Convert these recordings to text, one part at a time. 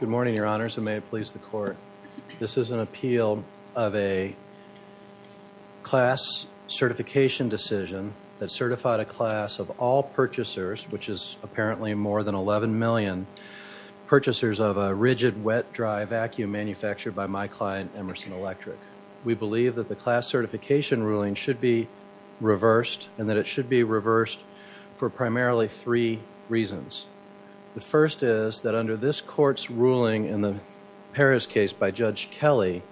Good morning, your honors, and may it please the court. This is an appeal of a class certification decision that certified a class of all purchasers, which is apparently more than 11 million purchasers of a rigid wet-dry vacuum manufactured by my client, Emerson Electric. We believe that the class certification ruling should be reversed, and that it should be reversed for primarily three reasons. The first is that under this court's ruling in the Paris case by Judge Kelly,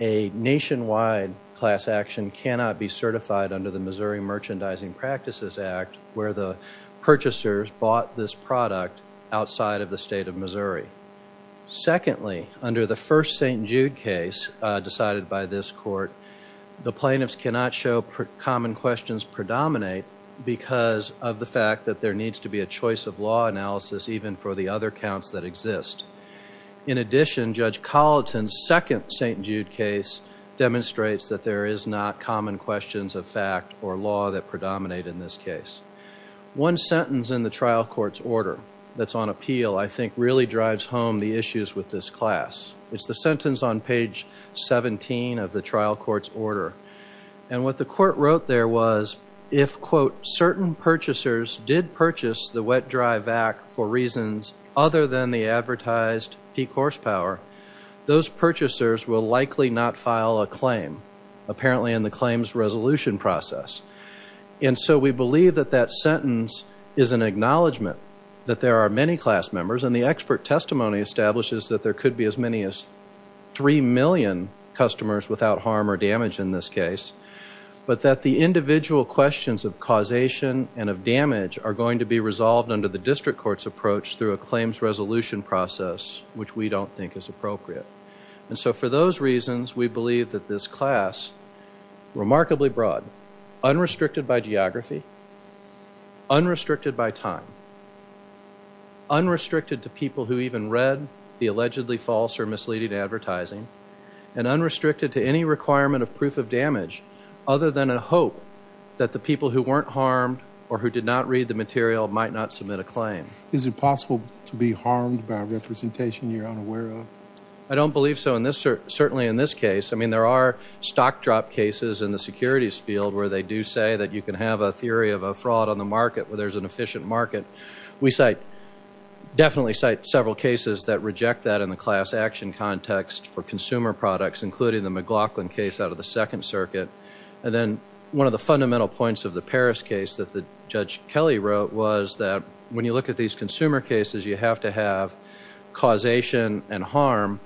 a nationwide class action cannot be certified under the Missouri Merchandising Practices Act, where the purchasers bought this product outside of the state of Missouri. Secondly, under the first St. Jude case decided by this court, the plaintiffs cannot show what common questions predominate because of the fact that there needs to be a choice of law analysis even for the other counts that exist. In addition, Judge Colleton's second St. Jude case demonstrates that there is not common questions of fact or law that predominate in this case. One sentence in the trial court's order that's on appeal I think really drives home the issues with this class. And what the court wrote there was, if, quote, certain purchasers did purchase the wet-dry vac for reasons other than the advertised P course power, those purchasers will likely not file a claim, apparently in the claims resolution process. And so we believe that that sentence is an acknowledgement that there are many class members, and the expert testimony establishes that there could be as many as 3 million customers without harm or damage in this case, but that the individual questions of causation and of damage are going to be resolved under the district court's approach through a claims resolution process, which we don't think is appropriate. And so for those reasons, we believe that this class, remarkably broad, unrestricted by geography, unrestricted by time, unrestricted to people who even read the allegedly false or misleading advertising, and unrestricted to any requirement of proof of damage other than a hope that the people who weren't harmed or who did not read the material might not submit a claim. Is it possible to be harmed by representation you're unaware of? I don't believe so, certainly in this case. I mean, there are stock drop cases in the securities field where they do say that you can have a theory of a fraud on the market where there's an efficient market. We definitely cite several cases that reject that in the class action context for consumer products, including the McLaughlin case out of the Second Circuit. And then one of the fundamental points of the Paris case that Judge Kelly wrote was that when you look at these consumer cases, you have to have causation and harm.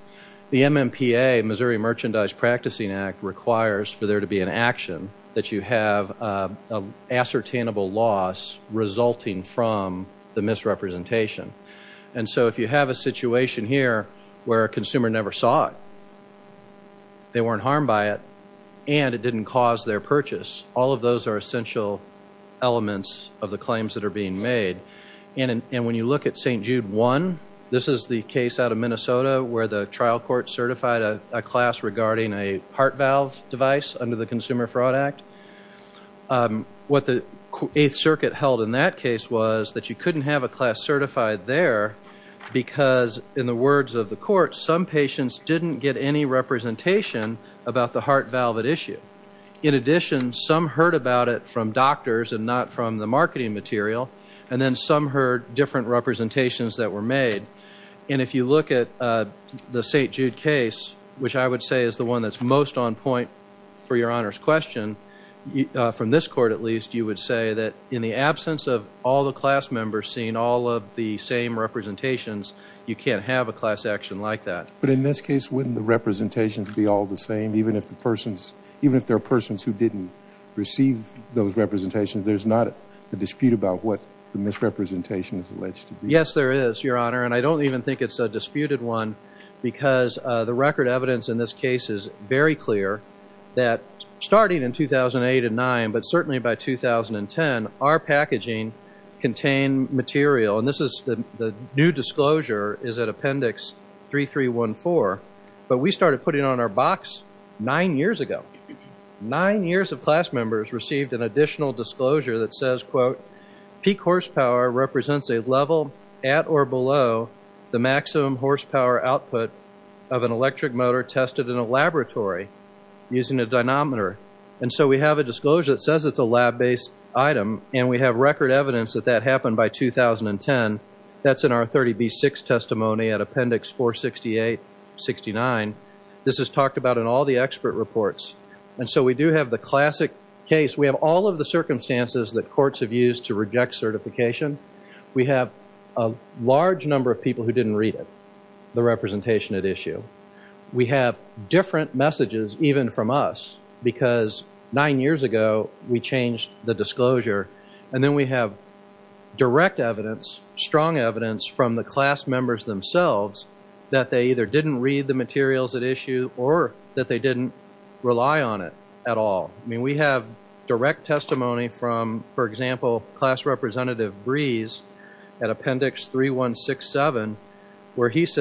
The MMPA, Missouri Merchandise Practicing Act, requires for there to be an action that you have an ascertainable loss resulting from the misrepresentation. And so if you have a situation here where a consumer never saw it, they weren't harmed by it, and it didn't cause their purchase, all of those are essential elements of the claims that are being made. And when you look at St. Jude 1, this is the case out of Minnesota where the trial court certified a class regarding a heart valve device under the Consumer Fraud Act. What the Eighth Circuit held in that case was that you couldn't have a class certified there because, in the words of the court, some patients didn't get any representation about the heart valve at issue. In addition, some heard about it from doctors and not from the marketing material, and then some heard different representations that were made. And if you look at the St. Jude case, which I would say is the one that's most on point for Your Honor's question, from this court at least, you would say that in the absence of all the class members seeing all of the same representations, you can't have a class action like that. But in this case, wouldn't the representations be all the same, even if there are persons who didn't receive those representations, there's not a dispute about what the misrepresentation is alleged to be? Yes, there is, Your Honor. And I don't even think it's a disputed one because the record evidence in this case is very clear that, starting in 2008 and 2009, but certainly by 2010, our packaging contained material. And this is the new disclosure is at Appendix 3314. But we started putting it on our box nine years ago. Nine years of class members received an additional disclosure that says, quote, peak horsepower represents a level at or below the maximum horsepower output of an electric motor tested in a laboratory using a dynamometer. And so we have a disclosure that says it's a lab-based item, and we have record evidence that that happened by 2010. That's in our 30B-6 testimony at Appendix 468-69. This is talked about in all the expert reports. And so we do have the classic case. We have all of the circumstances that courts have used to reject certification. We have a large number of people who didn't read it, the representation at issue. We have different messages, even from us, because nine years ago, we changed the disclosure. And then we have direct evidence, strong evidence, from the class members themselves that they either didn't read the materials at issue or that they didn't rely on it at all. I mean, we have direct testimony from, for example, Class Representative Brees at Appendix 3167, where he's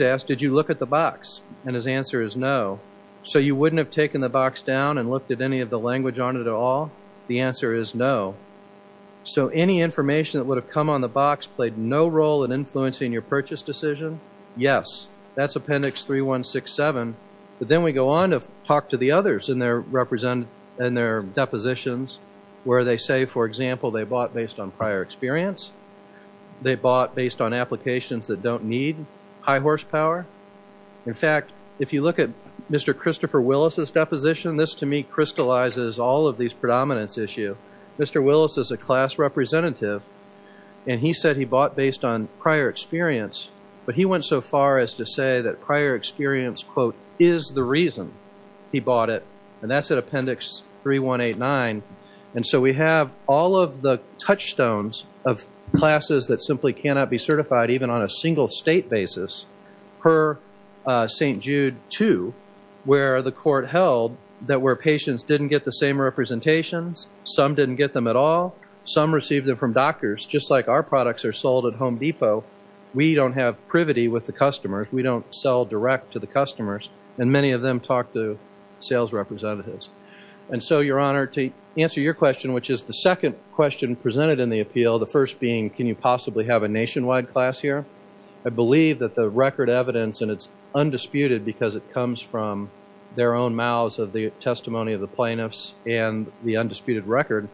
asked, did you look at the box? And his answer is no. So you wouldn't have taken the box down and looked at any of the language on it at all? The answer is no. So any information that would have come on the box played no role in influencing your purchase decision? Yes. That's Appendix 3167. But then we go on to talk to the others in their depositions, where they say, for example, they bought based on prior experience. They bought based on applications that don't need high horsepower. In fact, if you look at Mr. Christopher Willis' deposition, this, to me, crystallizes all of these predominance issues. Mr. Willis is a class representative, and he said he bought based on prior experience. But he went so far as to say that prior experience, quote, is the reason he bought it. And that's at Appendix 3189. And so we have all of the touchstones of classes that simply cannot be certified, even on a single state basis, per St. Jude 2, where the court held that where patients didn't get the same representations, some didn't get them at all. Some received them from doctors, just like our products are sold at Home Depot. We don't have privity with the customers. We don't sell direct to the customers. And many of them talk to sales representatives. And so, Your Honor, to answer your question, which is the second question presented in the appeal, the first being, can you possibly have a nationwide class here? I believe that the record evidence, and it's undisputed because it comes from their own mouths of the testimony of the plaintiffs and the undisputed record,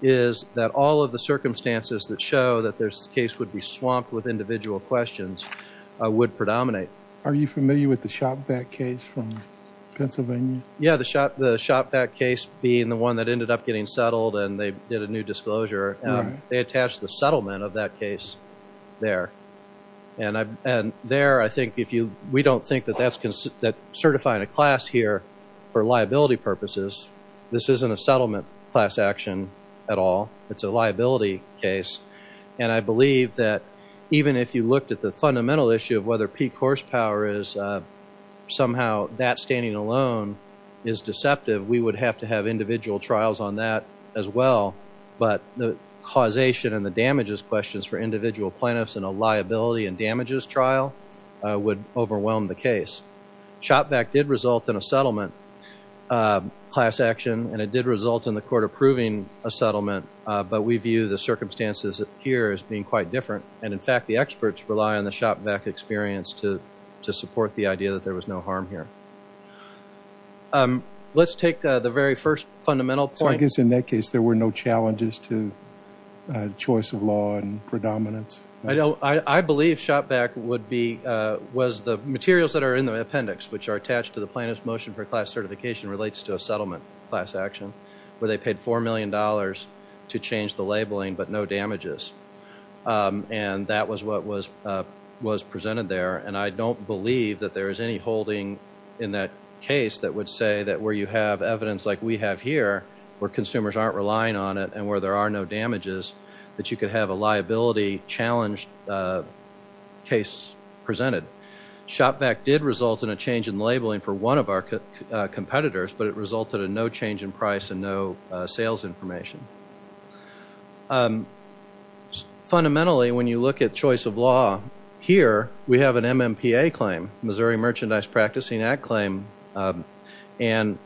is that all of the circumstances that show that this case would be swamped with individual questions would predominate. Are you familiar with the Shopvac case from Pennsylvania? Yeah, the Shopvac case being the one that ended up getting settled and they did a new disclosure. They attached the settlement of that case there. And there, I think, if you, we don't think that that's, that certifying a class here for liability purposes, this isn't a settlement class action at all. It's a liability case. And I believe that even if you looked at the fundamental issue of whether peak horsepower is somehow that standing alone is deceptive, we would have to have individual trials on that as well. But the causation and the damages questions for individual plaintiffs in a liability and damages trial would overwhelm the case. Shopvac did result in a settlement class action, and it did result in the court approving a class action. But we view the circumstances here as being quite different, and in fact, the experts rely on the Shopvac experience to support the idea that there was no harm here. Let's take the very first fundamental point. So I guess in that case, there were no challenges to choice of law and predominance? I believe Shopvac would be, was the materials that are in the appendix, which are attached to the plaintiff's motion for class certification, relates to a settlement class action where they paid $4 million to change the labeling, but no damages. And that was what was presented there. And I don't believe that there is any holding in that case that would say that where you have evidence like we have here, where consumers aren't relying on it, and where there are no damages, that you could have a liability challenge case presented. Shopvac did result in a change in labeling for one of our competitors, but it resulted in no change in price and no sales information. Fundamentally when you look at choice of law, here we have an MMPA claim, Missouri Merchandise Practicing Act claim, and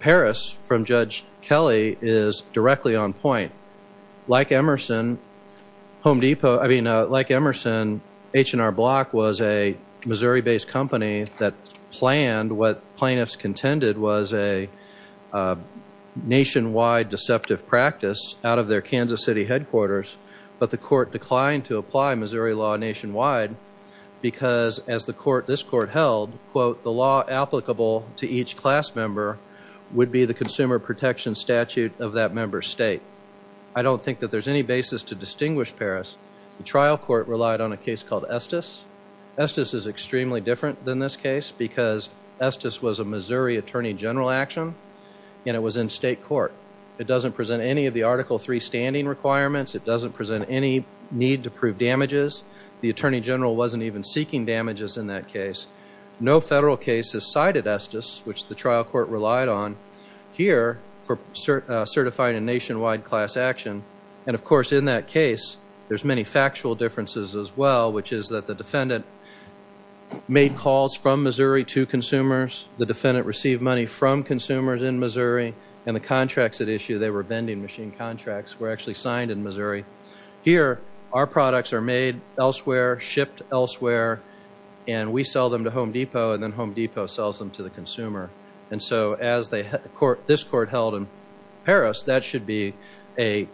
Paris from Judge Kelly is directly on point. Like Emerson, Home Depot, I mean, like Emerson, H&R Block was a Missouri-based company that planned what plaintiffs contended was a nationwide deceptive practice out of their Kansas City headquarters, but the court declined to apply Missouri law nationwide because as the court, this court held, quote, the law applicable to each class member would be the consumer protection statute of that member's state. I don't think that there's any basis to distinguish Paris. The trial court relied on a case called Estes. Estes is extremely different than this case because Estes was a Missouri Attorney General action and it was in state court. It doesn't present any of the Article III standing requirements. It doesn't present any need to prove damages. The Attorney General wasn't even seeking damages in that case. No federal case has cited Estes, which the trial court relied on here for certifying a nationwide class action, and of course in that case, there's many factual differences as well, which is that the defendant made calls from Missouri to consumers, the defendant received money from consumers in Missouri, and the contracts at issue, they were vending machine contracts, were actually signed in Missouri. Here our products are made elsewhere, shipped elsewhere, and we sell them to Home Depot and then Home Depot sells them to the consumer. And so as this court held in Paris, that should be a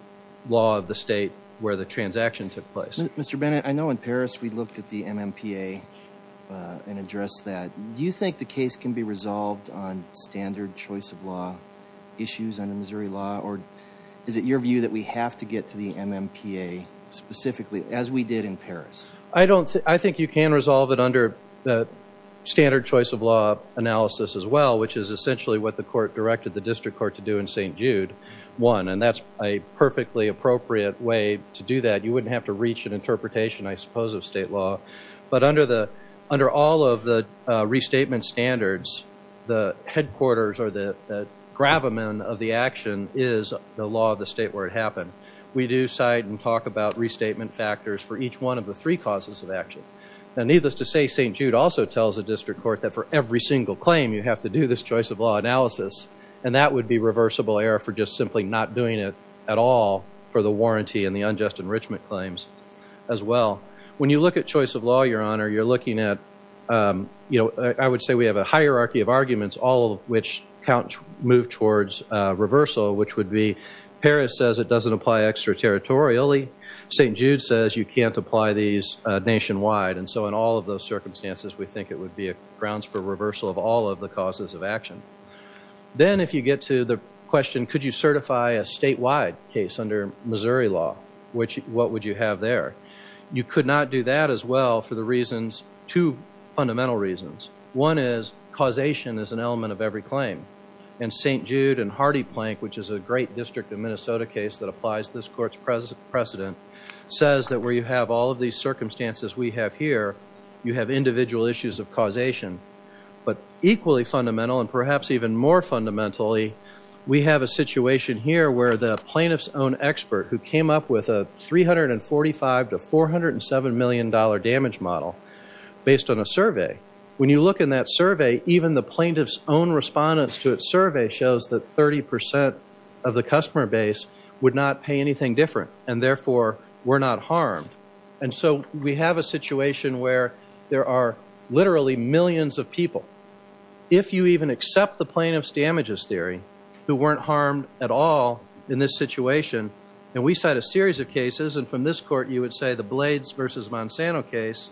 law of the state where the transaction took place. Mr. Bennett, I know in Paris we looked at the MMPA and addressed that. Do you think the case can be resolved on standard choice of law issues under Missouri law or is it your view that we have to get to the MMPA specifically as we did in Paris? I don't think, I think you can resolve it under standard choice of law analysis as well, which is essentially what the court directed the district court to do in St. Jude 1. And that's a perfectly appropriate way to do that. You wouldn't have to reach an interpretation, I suppose, of state law. But under all of the restatement standards, the headquarters or the gravamen of the action is the law of the state where it happened. We do cite and talk about restatement factors for each one of the three causes of action. And needless to say, St. Jude also tells the district court that for every single claim you have to do this choice of law analysis. And that would be reversible error for just simply not doing it at all for the warranty and the unjust enrichment claims as well. When you look at choice of law, Your Honor, you're looking at, you know, I would say we have a hierarchy of arguments, all of which count, move towards reversal, which would be Paris says it doesn't apply extraterritorially, St. Jude says you can't apply these nationwide. And so in all of those circumstances, we think it would be grounds for reversal of all of the causes of action. Then if you get to the question, could you certify a statewide case under Missouri law? What would you have there? You could not do that as well for the reasons, two fundamental reasons. One is causation is an element of every claim. And St. Jude and Hardy Plank, which is a great district of Minnesota case that applies to this court's precedent, says that where you have all of these circumstances we have here, you have individual issues of causation. But equally fundamental, and perhaps even more fundamentally, we have a situation here where the plaintiff's own expert who came up with a $345 to $407 million damage model based on a survey, when you look in that survey, even the plaintiff's own respondents to its survey shows that 30% of the customer base would not pay anything different. And therefore, we're not harmed. And so we have a situation where there are literally millions of people, if you even accept the plaintiff's damages theory, who weren't harmed at all in this situation. And we cite a series of cases, and from this court you would say the Blades versus Monsanto case,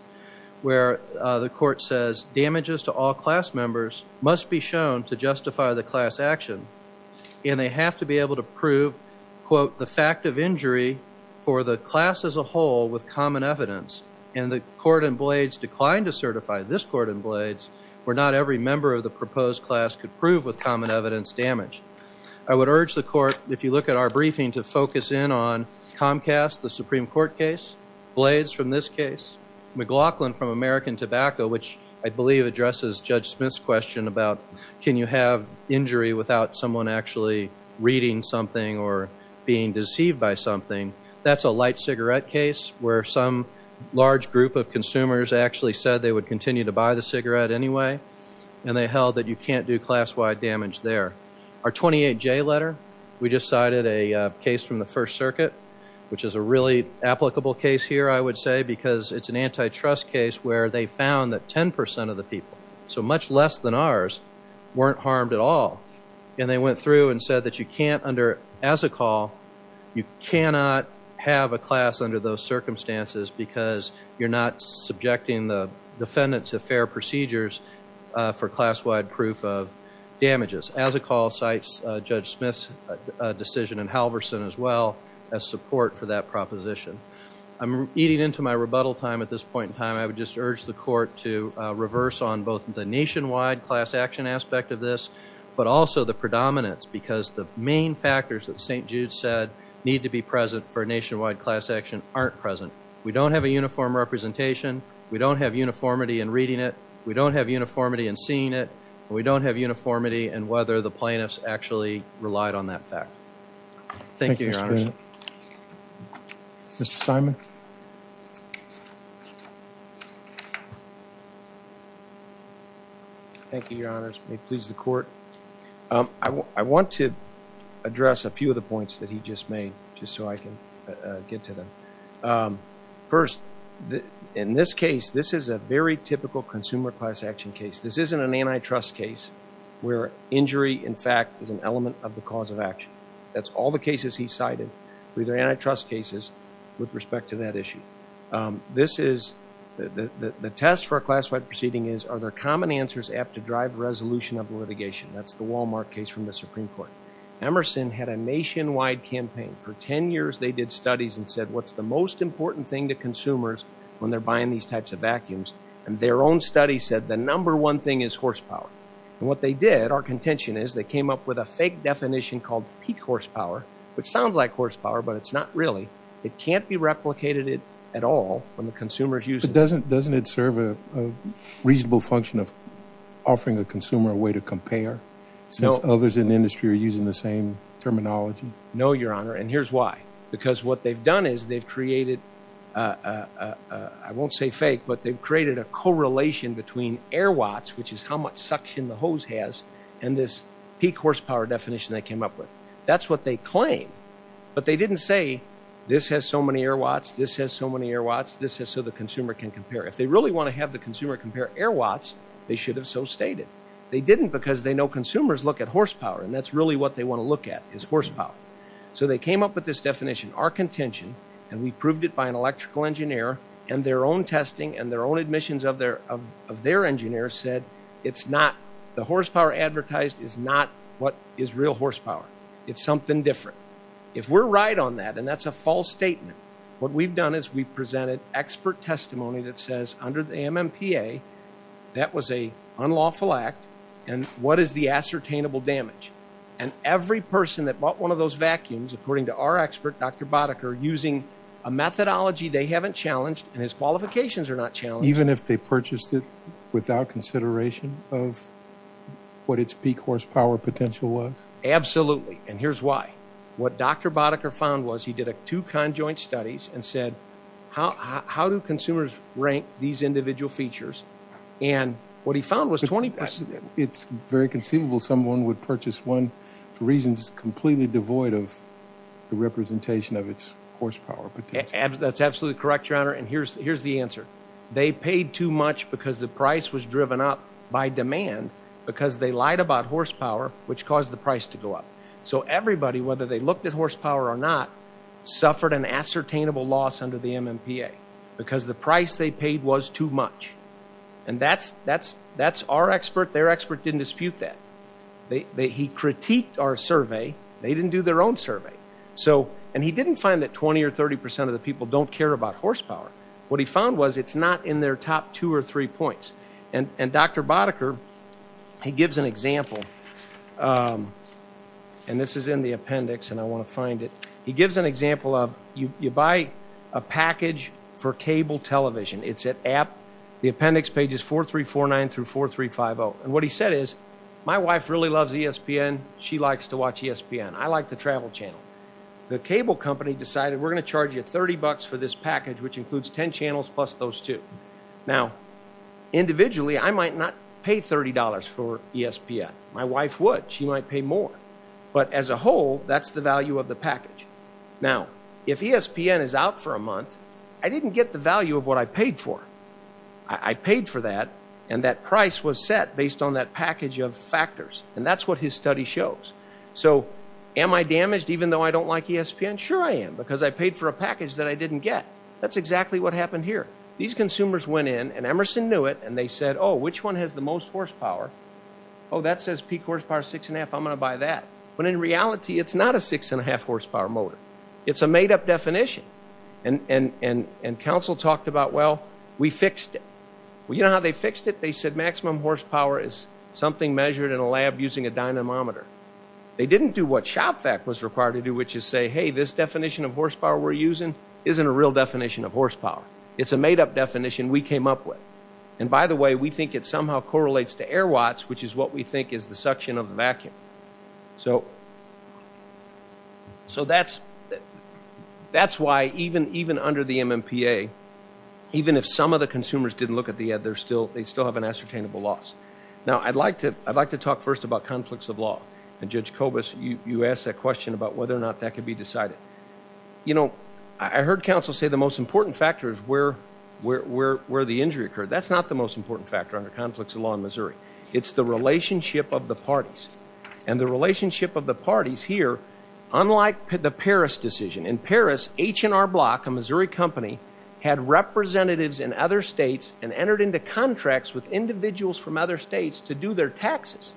where the court says damages to all class members must be shown to justify the class action. And they have to be able to prove, quote, the fact of injury for the class as a whole with common evidence. And the court in Blades declined to certify this court in Blades where not every member of the proposed class could prove with common evidence damage. I would urge the court, if you look at our briefing, to focus in on Comcast, the Supreme Court case, Blades from this case, McLaughlin from American Tobacco, which I believe addresses Judge Smith's question about can you have injury without someone actually reading something or being deceived by something. That's a light cigarette case where some large group of consumers actually said they would continue to buy the cigarette anyway. And they held that you can't do class-wide damage there. Our 28J letter, we just cited a case from the First Circuit, which is a really applicable case here, I would say, because it's an antitrust case where they found that 10% of the people so much less than ours, weren't harmed at all. And they went through and said that you can't under, as a call, you cannot have a class under those circumstances because you're not subjecting the defendant to fair procedures for class-wide proof of damages. As a call cites Judge Smith's decision and Halverson as well as support for that proposition. I'm eating into my rebuttal time at this point in time. I would just urge the court to reverse on both the nationwide class action aspect of this, but also the predominance because the main factors that St. Jude said need to be present for nationwide class action aren't present. We don't have a uniform representation. We don't have uniformity in reading it. We don't have uniformity in seeing it. We don't have uniformity in whether the plaintiffs actually relied on that fact. Thank you, Your Honor. Mr. Simon. Thank you, Your Honors. May it please the court. I want to address a few of the points that he just made just so I can get to them. First, in this case, this is a very typical consumer class action case. This isn't an antitrust case where injury, in fact, is an element of the cause of action. That's all the cases he cited were either antitrust cases with respect to that issue. This is the test for a class-wide proceeding is are there common answers apt to drive resolution of litigation? That's the Walmart case from the Supreme Court. Emerson had a nationwide campaign. For 10 years, they did studies and said, what's the most important thing to consumers when they're buying these types of vacuums? Their own study said the number one thing is horsepower. What they did, our contention is, they came up with a fake definition called peak horsepower, which sounds like horsepower, but it's not really. It can't be replicated at all when the consumer's using it. Doesn't it serve a reasonable function of offering the consumer a way to compare since others in the industry are using the same terminology? No, Your Honor, and here's why. Because what they've done is they've created, I won't say fake, but they've created a correlation between air watts, which is how much suction the hose has, and this peak horsepower definition they came up with. That's what they claim, but they didn't say, this has so many air watts, this has so many air watts, this has so the consumer can compare. If they really want to have the consumer compare air watts, they should have so stated. They didn't because they know consumers look at horsepower, and that's really what they want to look at is horsepower. They came up with this definition, our contention, and we proved it by an electrical engineer and their own testing and their own admissions of their engineer said it's not, the horsepower advertised is not what is real horsepower. It's something different. If we're right on that, and that's a false statement, what we've done is we've presented expert testimony that says under the MMPA, that was an unlawful act, and what is the ascertainable damage? Every person that bought one of those vacuums, according to our expert, Dr. Boddicker, using a methodology they haven't challenged, and his qualifications are not challenged. Even if they purchased it without consideration of what its peak horsepower potential was? Absolutely, and here's why. What Dr. Boddicker found was he did two conjoint studies and said, how do consumers rank these individual features, and what he found was 20%. It's very conceivable someone would purchase one for reasons completely devoid of the representation of its horsepower potential. That's absolutely correct, Your Honor, and here's the answer. They paid too much because the price was driven up by demand because they lied about horsepower, which caused the price to go up. So everybody, whether they looked at horsepower or not, suffered an ascertainable loss under the MMPA because the price they paid was too much, and that's our expert. Their expert didn't dispute that. He critiqued our survey. They didn't do their own survey. And he didn't find that 20% or 30% of the people don't care about horsepower. What he found was it's not in their top two or three points, and Dr. Boddicker, he gives an example, and this is in the appendix and I want to find it. He gives an example of you buy a package for cable television. It's at App, the appendix page is 4349 through 4350, and what he said is, my wife really loves ESPN. She likes to watch ESPN. I like the travel channel. The cable company decided, we're going to charge you 30 bucks for this package, which includes 10 channels plus those two. Now, individually, I might not pay $30 for ESPN. My wife would. She might pay more. But as a whole, that's the value of the package. Now, if ESPN is out for a month, I didn't get the value of what I paid for. I paid for that, and that price was set based on that package of factors, and that's what his study shows. So am I damaged even though I don't like ESPN? Sure I am, because I paid for a package that I didn't get. That's exactly what happened here. These consumers went in, and Emerson knew it, and they said, oh, which one has the most horsepower? Oh, that says peak horsepower 6 1⁄2, I'm going to buy that. When in reality, it's not a 6 1⁄2 horsepower motor. It's a made-up definition, and counsel talked about, well, we fixed it. Well, you know how they fixed it? They said maximum horsepower is something measured in a lab using a dynamometer. They didn't do what ShopVac was required to do, which is say, hey, this definition of horsepower we're using isn't a real definition of horsepower. It's a made-up definition we came up with, and by the way, we think it somehow correlates to air watts, which is what we think is the suction of the vacuum. So that's why even under the MMPA, even if some of the consumers didn't look at the ad, they still have an ascertainable loss. Now I'd like to talk first about conflicts of law, and Judge Kobus, you asked that question about whether or not that could be decided. You know, I heard counsel say the most important factor is where the injury occurred. That's not the most important factor under conflicts of law in Missouri. It's the relationship of the parties, and the relationship of the parties here, unlike the Paris decision, in Paris, H&R Block, a Missouri company, had representatives in other contracts with individuals from other states to do their taxes.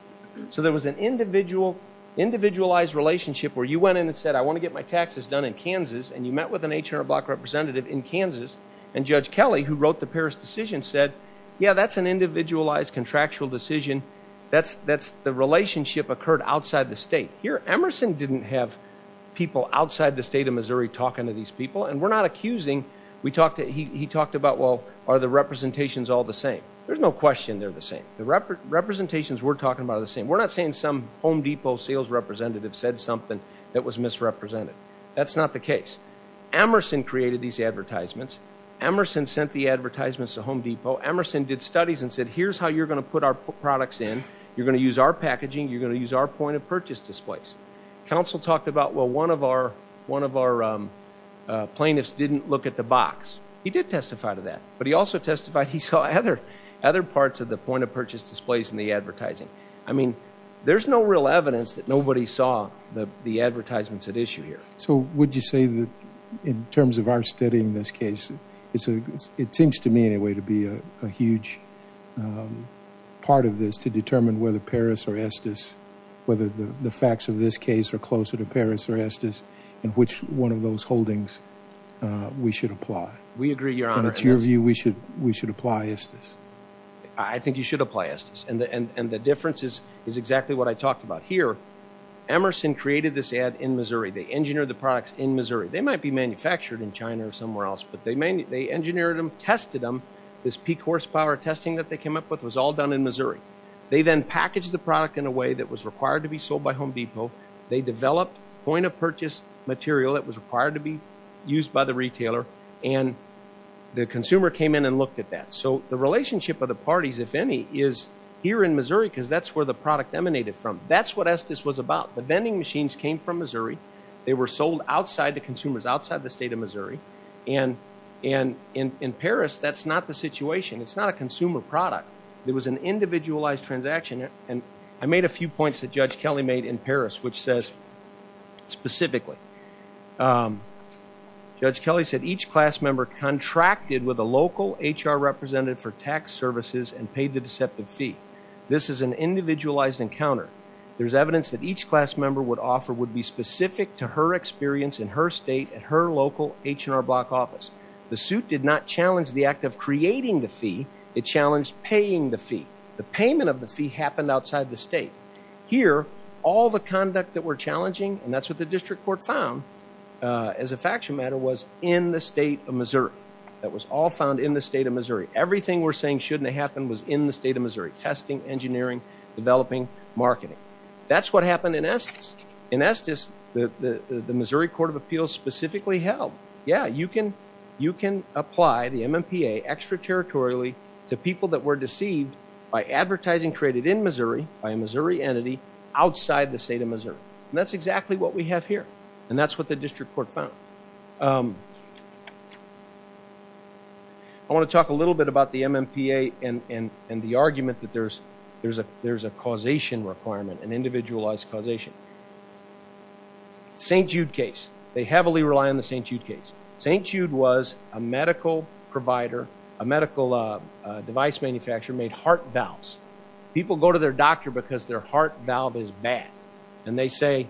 So there was an individualized relationship where you went in and said, I want to get my taxes done in Kansas, and you met with an H&R Block representative in Kansas, and Judge Kelly, who wrote the Paris decision, said, yeah, that's an individualized contractual decision. That's the relationship occurred outside the state. Here Emerson didn't have people outside the state of Missouri talking to these people, and we're not accusing. He talked about, well, are the representations all the same? There's no question they're the same. The representations we're talking about are the same. We're not saying some Home Depot sales representative said something that was misrepresented. That's not the case. Emerson created these advertisements. Emerson sent the advertisements to Home Depot. Emerson did studies and said, here's how you're going to put our products in. You're going to use our packaging. You're going to use our point of purchase displays. Counsel talked about, well, one of our plaintiffs didn't look at the box. He did testify to that, but he also testified he saw other parts of the point of purchase displays in the advertising. I mean, there's no real evidence that nobody saw the advertisements at issue here. So would you say that in terms of our study in this case, it seems to me anyway to be a huge part of this to determine whether Paris or Estes, whether the facts of this case are closer to Paris or Estes, in which one of those holdings we should apply? We agree, Your Honor. And it's your view we should apply Estes? I think you should apply Estes. And the difference is exactly what I talked about here. Emerson created this ad in Missouri. They engineered the products in Missouri. They might be manufactured in China or somewhere else, but they engineered them, tested them. This peak horsepower testing that they came up with was all done in Missouri. They then packaged the product in a way that was required to be sold by Home Depot. They developed point of purchase material that was required to be used by the retailer. And the consumer came in and looked at that. So the relationship of the parties, if any, is here in Missouri because that's where the product emanated from. That's what Estes was about. The vending machines came from Missouri. They were sold outside to consumers outside the state of Missouri. And in Paris, that's not the situation. It's not a consumer product. It was an individualized transaction. And I made a few points that Judge Kelly made in Paris, which says specifically, Judge Kelly said each class member contracted with a local HR representative for tax services and paid the deceptive fee. This is an individualized encounter. There's evidence that each class member would offer would be specific to her experience in her state, at her local H&R Block office. The suit did not challenge the act of creating the fee. It challenged paying the fee. The payment of the fee happened outside the state. Here, all the conduct that we're challenging, and that's what the district court found as a faction matter, was in the state of Missouri. That was all found in the state of Missouri. Everything we're saying shouldn't have happened was in the state of Missouri. Testing, engineering, developing, marketing. That's what happened in Estes. In Estes, the Missouri Court of Appeals specifically held, yeah, you can apply the MMPA extraterritorially to people that were deceived by advertising created in Missouri by a Missouri entity outside the state of Missouri. And that's exactly what we have here. And that's what the district court found. I want to talk a little bit about the MMPA and the argument that there's a causation requirement, an individualized causation. St. Jude case. They heavily rely on the St. Jude case. St. Jude was a medical provider, a medical device manufacturer made heart valves. People go to their doctor because their heart valve is bad. And they say,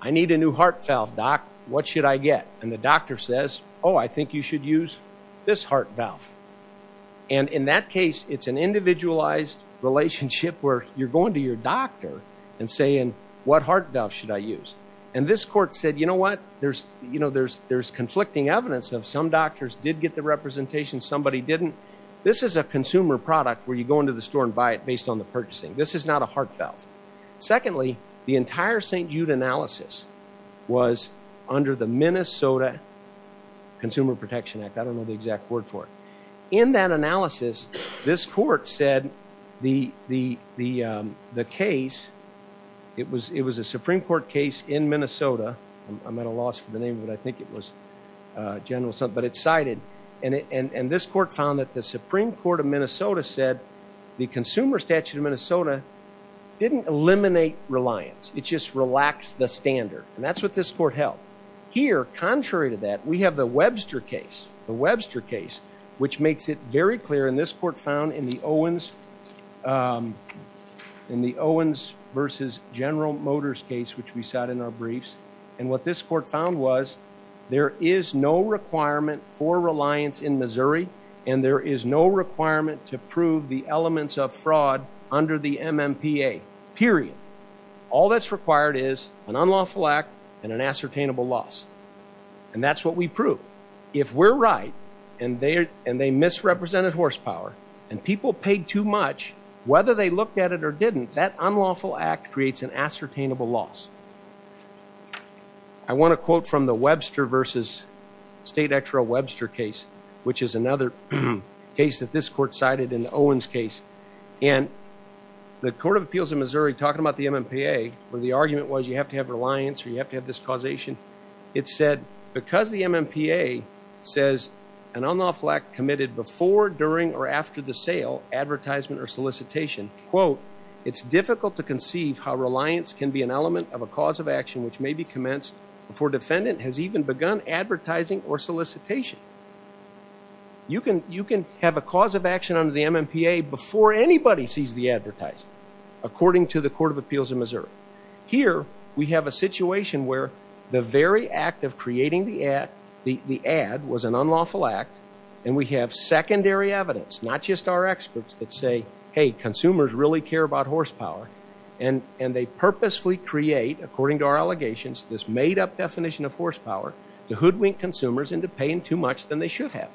I need a new heart valve, doc. What should I get? And the doctor says, oh, I think you should use this heart valve. And in that case, it's an individualized relationship where you're going to your doctor and saying, what heart valve should I use? And this court said, you know what, there's conflicting evidence of some doctors did get the representation, somebody didn't. This is a consumer product where you go into the store and buy it based on the purchasing. This is not a heart valve. Secondly, the entire St. Jude analysis was under the Minnesota Consumer Protection Act. I don't know the exact word for it. In that analysis, this court said the case, it was a Supreme Court case in Minnesota. I'm at a loss for the name, but I think it was General, but it's cited. And this court found that the Supreme Court of Minnesota said the Consumer Statute of Minnesota didn't eliminate reliance. It just relaxed the standard. And that's what this court held. Here, contrary to that, we have the Webster case, the Webster case, which makes it very clear in this court found in the Owens versus General Motors case, which we sat in our briefs. And what this court found was there is no requirement for reliance in Missouri. And there is no requirement to prove the elements of fraud under the MMPA, period. All that's required is an unlawful act and an ascertainable loss. And that's what we prove. If we're right and they misrepresented horsepower and people paid too much, whether they looked at it or didn't, that unlawful act creates an ascertainable loss. I want to quote from the Webster versus State Actual Webster case, which is another case that this court cited in the Owens case. And the Court of Appeals in Missouri, talking about the MMPA, where the argument was you have to have reliance or you have to have this causation, it said, because the MMPA says an unlawful act committed before, during, or after the sale, advertisement, or solicitation, quote, it's difficult to conceive how reliance can be an element of a cause of action which may be commenced before defendant has even begun advertising or solicitation. You can have a cause of action under the MMPA before anybody sees the advertisement, according to the Court of Appeals in Missouri. Here we have a situation where the very act of creating the ad was an unlawful act and we have secondary evidence, not just our experts that say, hey, consumers really care about horsepower and they purposefully create, according to our allegations, this made-up definition of horsepower to hoodwink consumers into paying too much than they should have.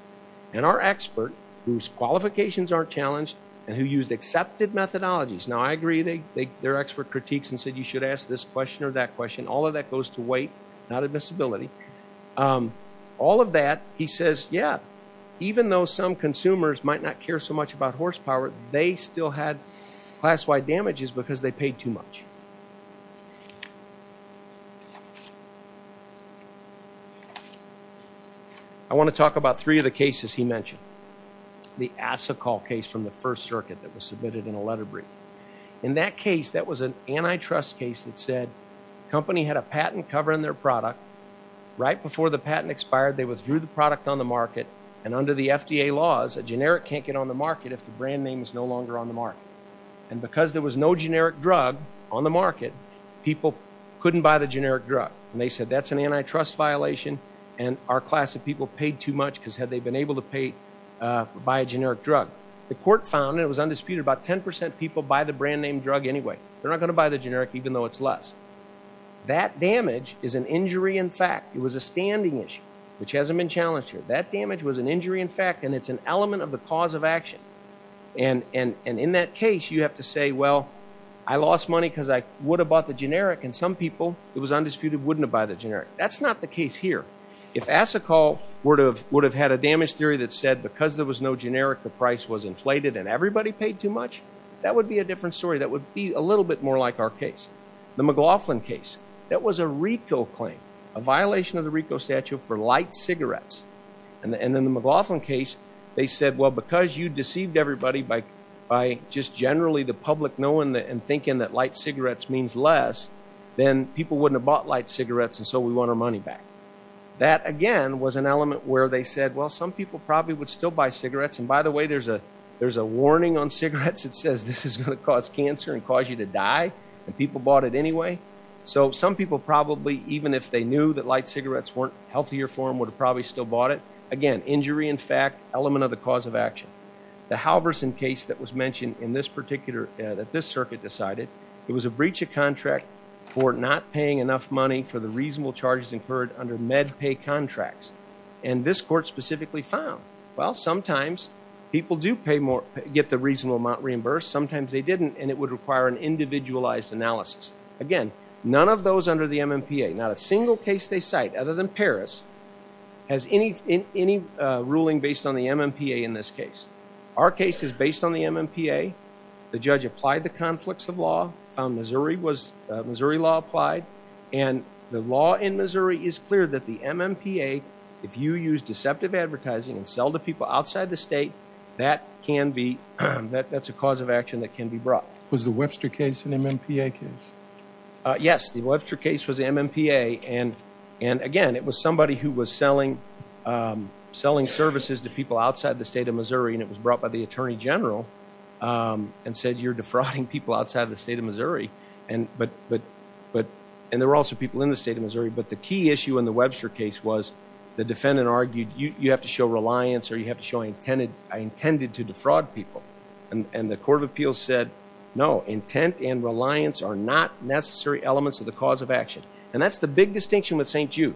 And our expert, whose qualifications aren't challenged, and who used accepted methodologies, now I agree they're expert critiques and said you should ask this question or that question, all of that goes to weight, not admissibility. All of that, he says, yeah, even though some consumers might not care so much about horsepower, they still had class-wide damages because they paid too much. I want to talk about three of the cases he mentioned. The Asicol case from the First Circuit that was submitted in a letter brief. In that case, that was an antitrust case that said company had a patent covering their product. Right before the patent expired, they withdrew the product on the market and under the FDA laws, a generic can't get on the market if the brand name is no longer on the market. And because there was no generic drug on the market, people couldn't buy the generic drug. And they said that's an antitrust violation and our class of people paid too much because had they been able to pay, buy a generic drug. The court found, and it was undisputed, about 10% of people buy the brand name drug anyway. They're not going to buy the generic even though it's less. That damage is an injury in fact. It was a standing issue, which hasn't been challenged here. That damage was an injury in fact and it's an element of the cause of action. And in that case, you have to say, well, I lost money because I would have bought the generic. And some people, it was undisputed, wouldn't have bought the generic. That's not the case here. If Asacol would have had a damage theory that said because there was no generic, the price was inflated and everybody paid too much, that would be a different story. That would be a little bit more like our case. The McLaughlin case, that was a RICO claim, a violation of the RICO statute for light cigarettes. And then the McLaughlin case, they said, well, because you deceived everybody by just generally the public knowing and thinking that light cigarettes means less, then people wouldn't have bought light cigarettes and so we want our money back. That again was an element where they said, well, some people probably would still buy cigarettes and by the way, there's a warning on cigarettes that says this is going to cause cancer and cause you to die and people bought it anyway. So some people probably, even if they knew that light cigarettes weren't healthier for them, would have probably still bought it. Again, injury in fact, element of the cause of action. The Halverson case that was mentioned in this particular, that this circuit decided, it was a breach of contract for not paying enough money for the reasonable charges incurred under MedPay contracts. And this court specifically found, well, sometimes people do pay more, get the reasonable amount reimbursed. Sometimes they didn't and it would require an individualized analysis. Again, none of those under the MMPA, not a single case they cite other than Paris, has any ruling based on the MMPA in this case. Our case is based on the MMPA. The judge applied the conflicts of law, Missouri law applied and the law in Missouri is clear that the MMPA, if you use deceptive advertising and sell to people outside the state, that can be, that's a cause of action that can be brought. Was the Webster case an MMPA case? Yes. The Webster case was MMPA and again, it was somebody who was selling services to people outside the state of Missouri and it was brought by the attorney general and said, you're defrauding people outside of the state of Missouri. And there were also people in the state of Missouri. But the key issue in the Webster case was the defendant argued, you have to show reliance or you have to show I intended to defraud people. And the court of appeals said, no, intent and reliance are not necessary elements of the cause of action. And that's the big distinction with St. Jude.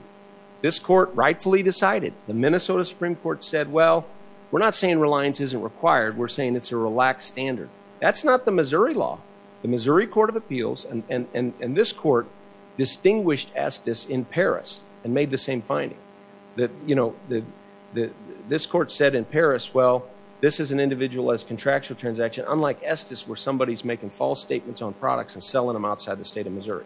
This court rightfully decided, the Minnesota Supreme Court said, well, we're not saying reliance isn't required, we're saying it's a relaxed standard. That's not the Missouri law. The Missouri court of appeals and this court distinguished Estes in Paris and made the same finding. This court said in Paris, well, this is an individualized contractual transaction, unlike Estes where somebody is making false statements on products and selling them outside the state of Missouri.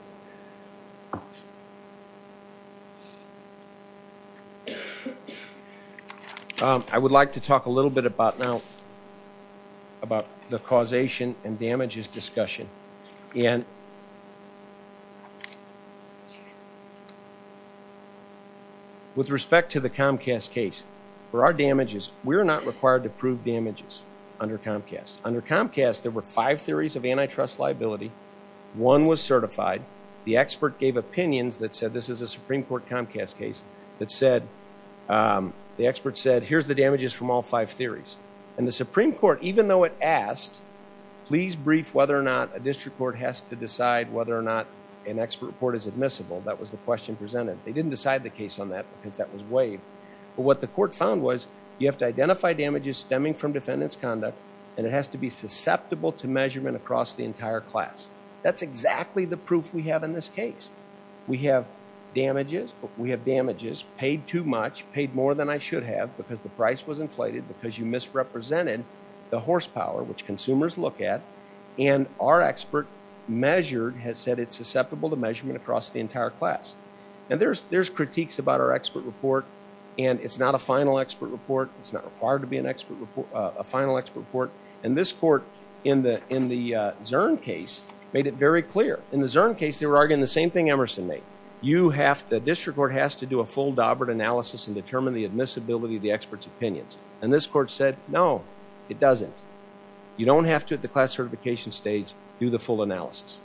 I would like to talk a little bit about now, about the causation and damages discussion. And with respect to the Comcast case, for our damages, we're not required to prove damages under Comcast. Under Comcast, there were five theories of antitrust liability. One was certified. The expert gave opinions that said this is a Supreme Court Comcast case that said, the expert said, here's the damages from all five theories. And the Supreme Court, even though it asked, please brief whether or not a district court has to decide whether or not an expert report is admissible, that was the question presented. They didn't decide the case on that because that was waived. But what the court found was, you have to identify damages stemming from defendant's conduct and it has to be susceptible to measurement across the entire class. That's exactly the proof we have in this case. We have damages, but we have damages paid too much, paid more than I should have because the price was inflated, because you misrepresented the horsepower, which consumers look at, and our expert measured, has said it's susceptible to measurement across the entire class. And there's critiques about our expert report, and it's not a final expert report. It's not required to be a final expert report. And this court, in the Zurn case, made it very clear. In the Zurn case, they were arguing the same thing Emerson made. You have to, the district court has to do a full Daubert analysis and determine the admissibility of the expert's opinions. And this court said, no, it doesn't. You don't have to, at the class certification stage, do the full analysis.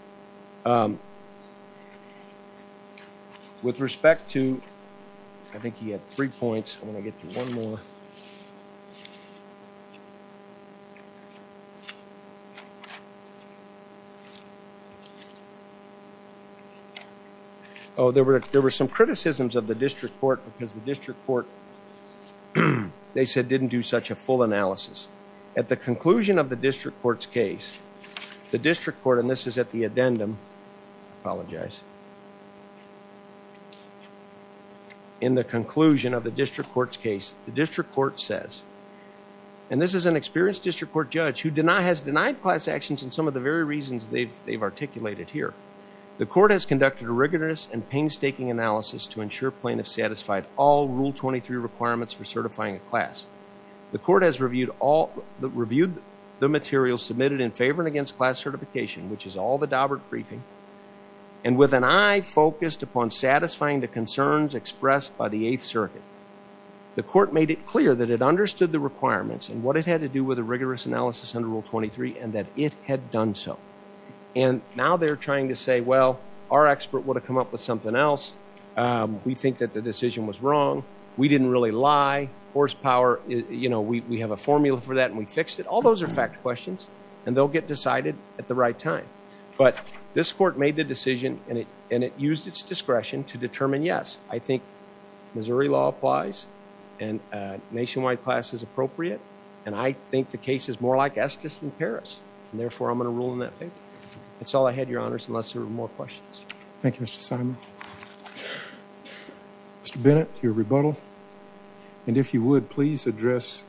With respect to, I think he had three points, I'm going to get to one more. Oh, there were some criticisms of the district court because the district court, they said, didn't do such a full analysis. At the conclusion of the district court's case, the district court, and this is at the addendum, I apologize. In the conclusion of the district court's case, the district court says, and this is an experienced district court judge who has denied class actions and some of the very reasons they've articulated here. The court has conducted a rigorous and painstaking analysis to ensure plaintiffs satisfied all Rule 23 requirements for certifying a class. The court has reviewed the materials submitted in favor and against class certification, which is all the Daubert briefing, and with an eye focused upon satisfying the concerns expressed by the Eighth Circuit. The court made it clear that it understood the requirements and what it had to do with a rigorous analysis under Rule 23 and that it had done so. Now they're trying to say, well, our expert would have come up with something else. We think that the decision was wrong. We didn't really lie. Horsepower, we have a formula for that and we fixed it. All those are fact questions and they'll get decided at the right time. This court made the decision and it used its discretion to determine, yes, I think Missouri law applies and nationwide class is appropriate and I think the case is more like Estes than Paris and therefore I'm going to rule in that favor. That's all I had, your honors, unless there were more questions. Thank you, Mr. Simon. Mr. Bennett, your rebuttal, and if you would, please address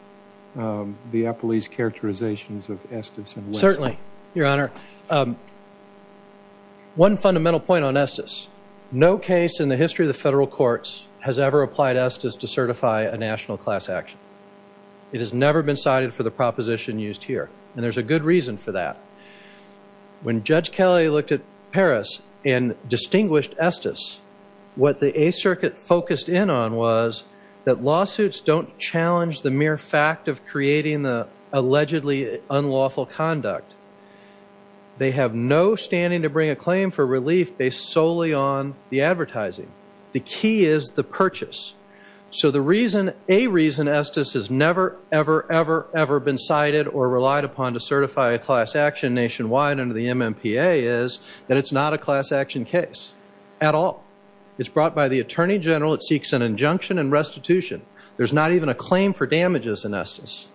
the appellee's characterizations of Estes and West. Certainly, your honor. One fundamental point on Estes. No case in the history of the federal courts has ever applied Estes to certify a national class action. It has never been cited for the proposition used here and there's a good reason for that. When Judge Kelly looked at Paris and distinguished Estes, what the Eighth Circuit focused in on was that lawsuits don't challenge the mere fact of creating the allegedly unlawful conduct. They have no standing to bring a claim for relief based solely on the advertising. The key is the purchase. So the reason, a reason, Estes has never, ever, ever, ever been cited or relied upon to certify a class action nationwide under the MMPA is that it's not a class action case at all. It's brought by the attorney general, it seeks an injunction and restitution. There's not even a claim for damages in Estes.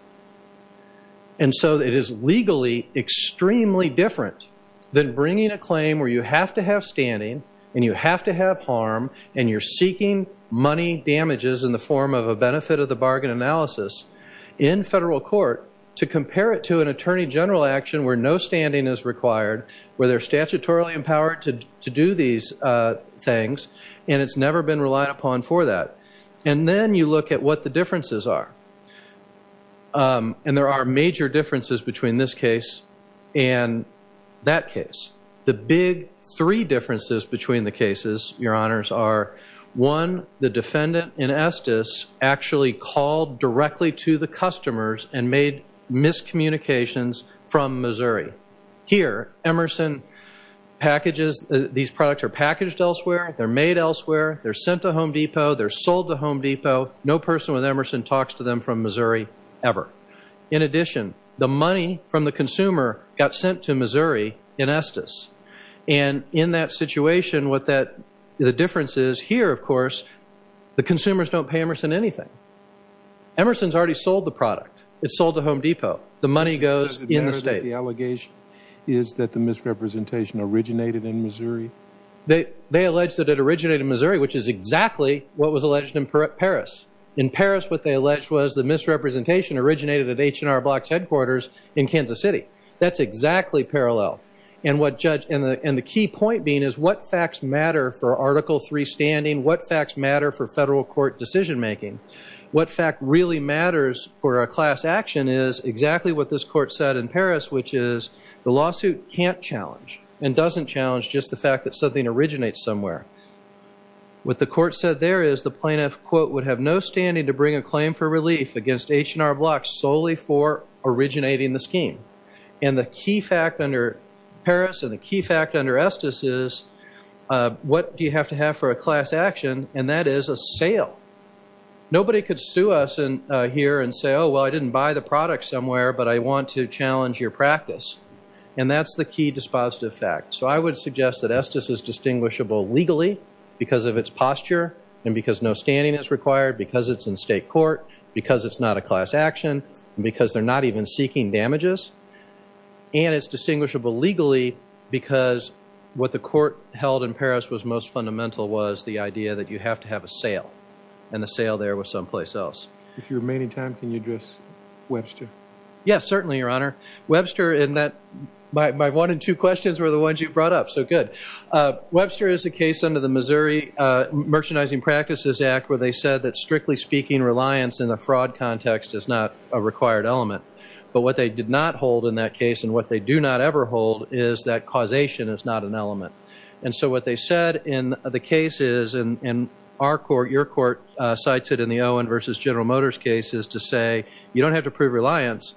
And so it is legally extremely different than bringing a claim where you have to have standing and you have to have harm and you're seeking money damages in the form of a benefit of the bargain analysis in federal court to compare it to an attorney general action where no standing is required, where they're statutorily empowered to do these things and it's never been relied upon for that. And then you look at what the differences are. And there are major differences between this case and that case. The big three differences between the cases, your honors, are one, the defendant in Estes actually called directly to the customers and made miscommunications from Missouri. Here Emerson packages, these products are packaged elsewhere, they're made elsewhere, they're sent to Home Depot, they're sold to Home Depot. No person with Emerson talks to them from Missouri ever. In addition, the money from the consumer got sent to Missouri in Estes. And in that situation what that, the difference is here of course, the consumers don't pay Emerson anything. Emerson's already sold the product, it's sold to Home Depot. The money goes in the state. Does it matter that the allegation is that the misrepresentation originated in Missouri? They allege that it originated in Missouri, which is exactly what was alleged in Paris. In Paris what they alleged was the misrepresentation originated at H&R Block's headquarters in Kansas City. That's exactly parallel. And the key point being is what facts matter for Article III standing, what facts matter for federal court decision making? What fact really matters for a class action is exactly what this court said in Paris, which is the lawsuit can't challenge and doesn't challenge just the fact that something originates somewhere. What the court said there is the plaintiff, quote, would have no standing to bring a claim for relief against H&R Block solely for originating the scheme. And the key fact under Paris and the key fact under Estes is what do you have to have for a class action? And that is a sale. Nobody could sue us here and say, oh, well, I didn't buy the product somewhere but I want to challenge your practice. And that's the key dispositive fact. So I would suggest that Estes is distinguishable legally because of its posture and because no standing is required, because it's in state court, because it's not a class action, because they're not even seeking damages, and it's distinguishable legally because what the court held in Paris was most fundamental was the idea that you have to have a sale and the sale there was someplace else. If you remain in time, can you address Webster? Yes, certainly, Your Honor. Webster, and my one and two questions were the ones you brought up, so good. Webster is a case under the Missouri Merchandising Practices Act where they said that, strictly speaking, reliance in a fraud context is not a required element. But what they did not hold in that case and what they do not ever hold is that causation is not an element. And so what they said in the case is, and our court, your court, cites it in the Owen v. General Motors cases to say, you don't have to prove reliance,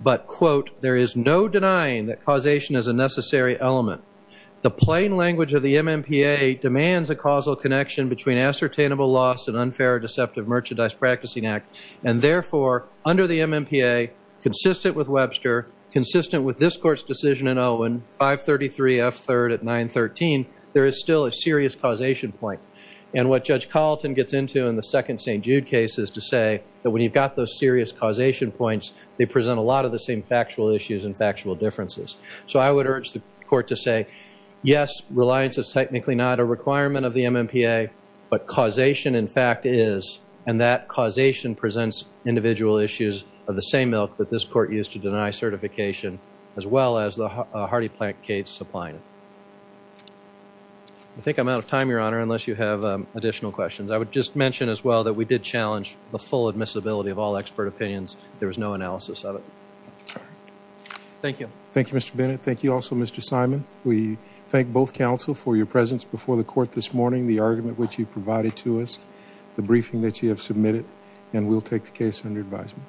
but, quote, there is no denying that causation is a necessary element. The plain language of the MMPA demands a causal connection between ascertainable loss and unfair or deceptive merchandise practicing act, and therefore, under the MMPA, consistent with Webster, consistent with this court's decision in Owen, 533 F. 3rd at 913, there is still a serious causation point. And what Judge Carlton gets into in the second St. Jude case is to say that when you've got those serious causation points, they present a lot of the same factual issues and factual differences. So I would urge the court to say, yes, reliance is technically not a requirement of the MMPA, but causation, in fact, is, and that causation presents individual issues of the same ilk that this court used to deny certification as well as the hardy plant case supplying it. I think I'm out of time, Your Honor, unless you have additional questions. I would just mention as well that we did challenge the full admissibility of all expert opinions. There was no analysis of it. Thank you. Thank you, Mr. Bennett. Thank you also, Mr. Simon. We thank both counsel for your presence before the court this morning, the argument which you provided to us, the briefing that you have submitted, and we'll take the case under advisement.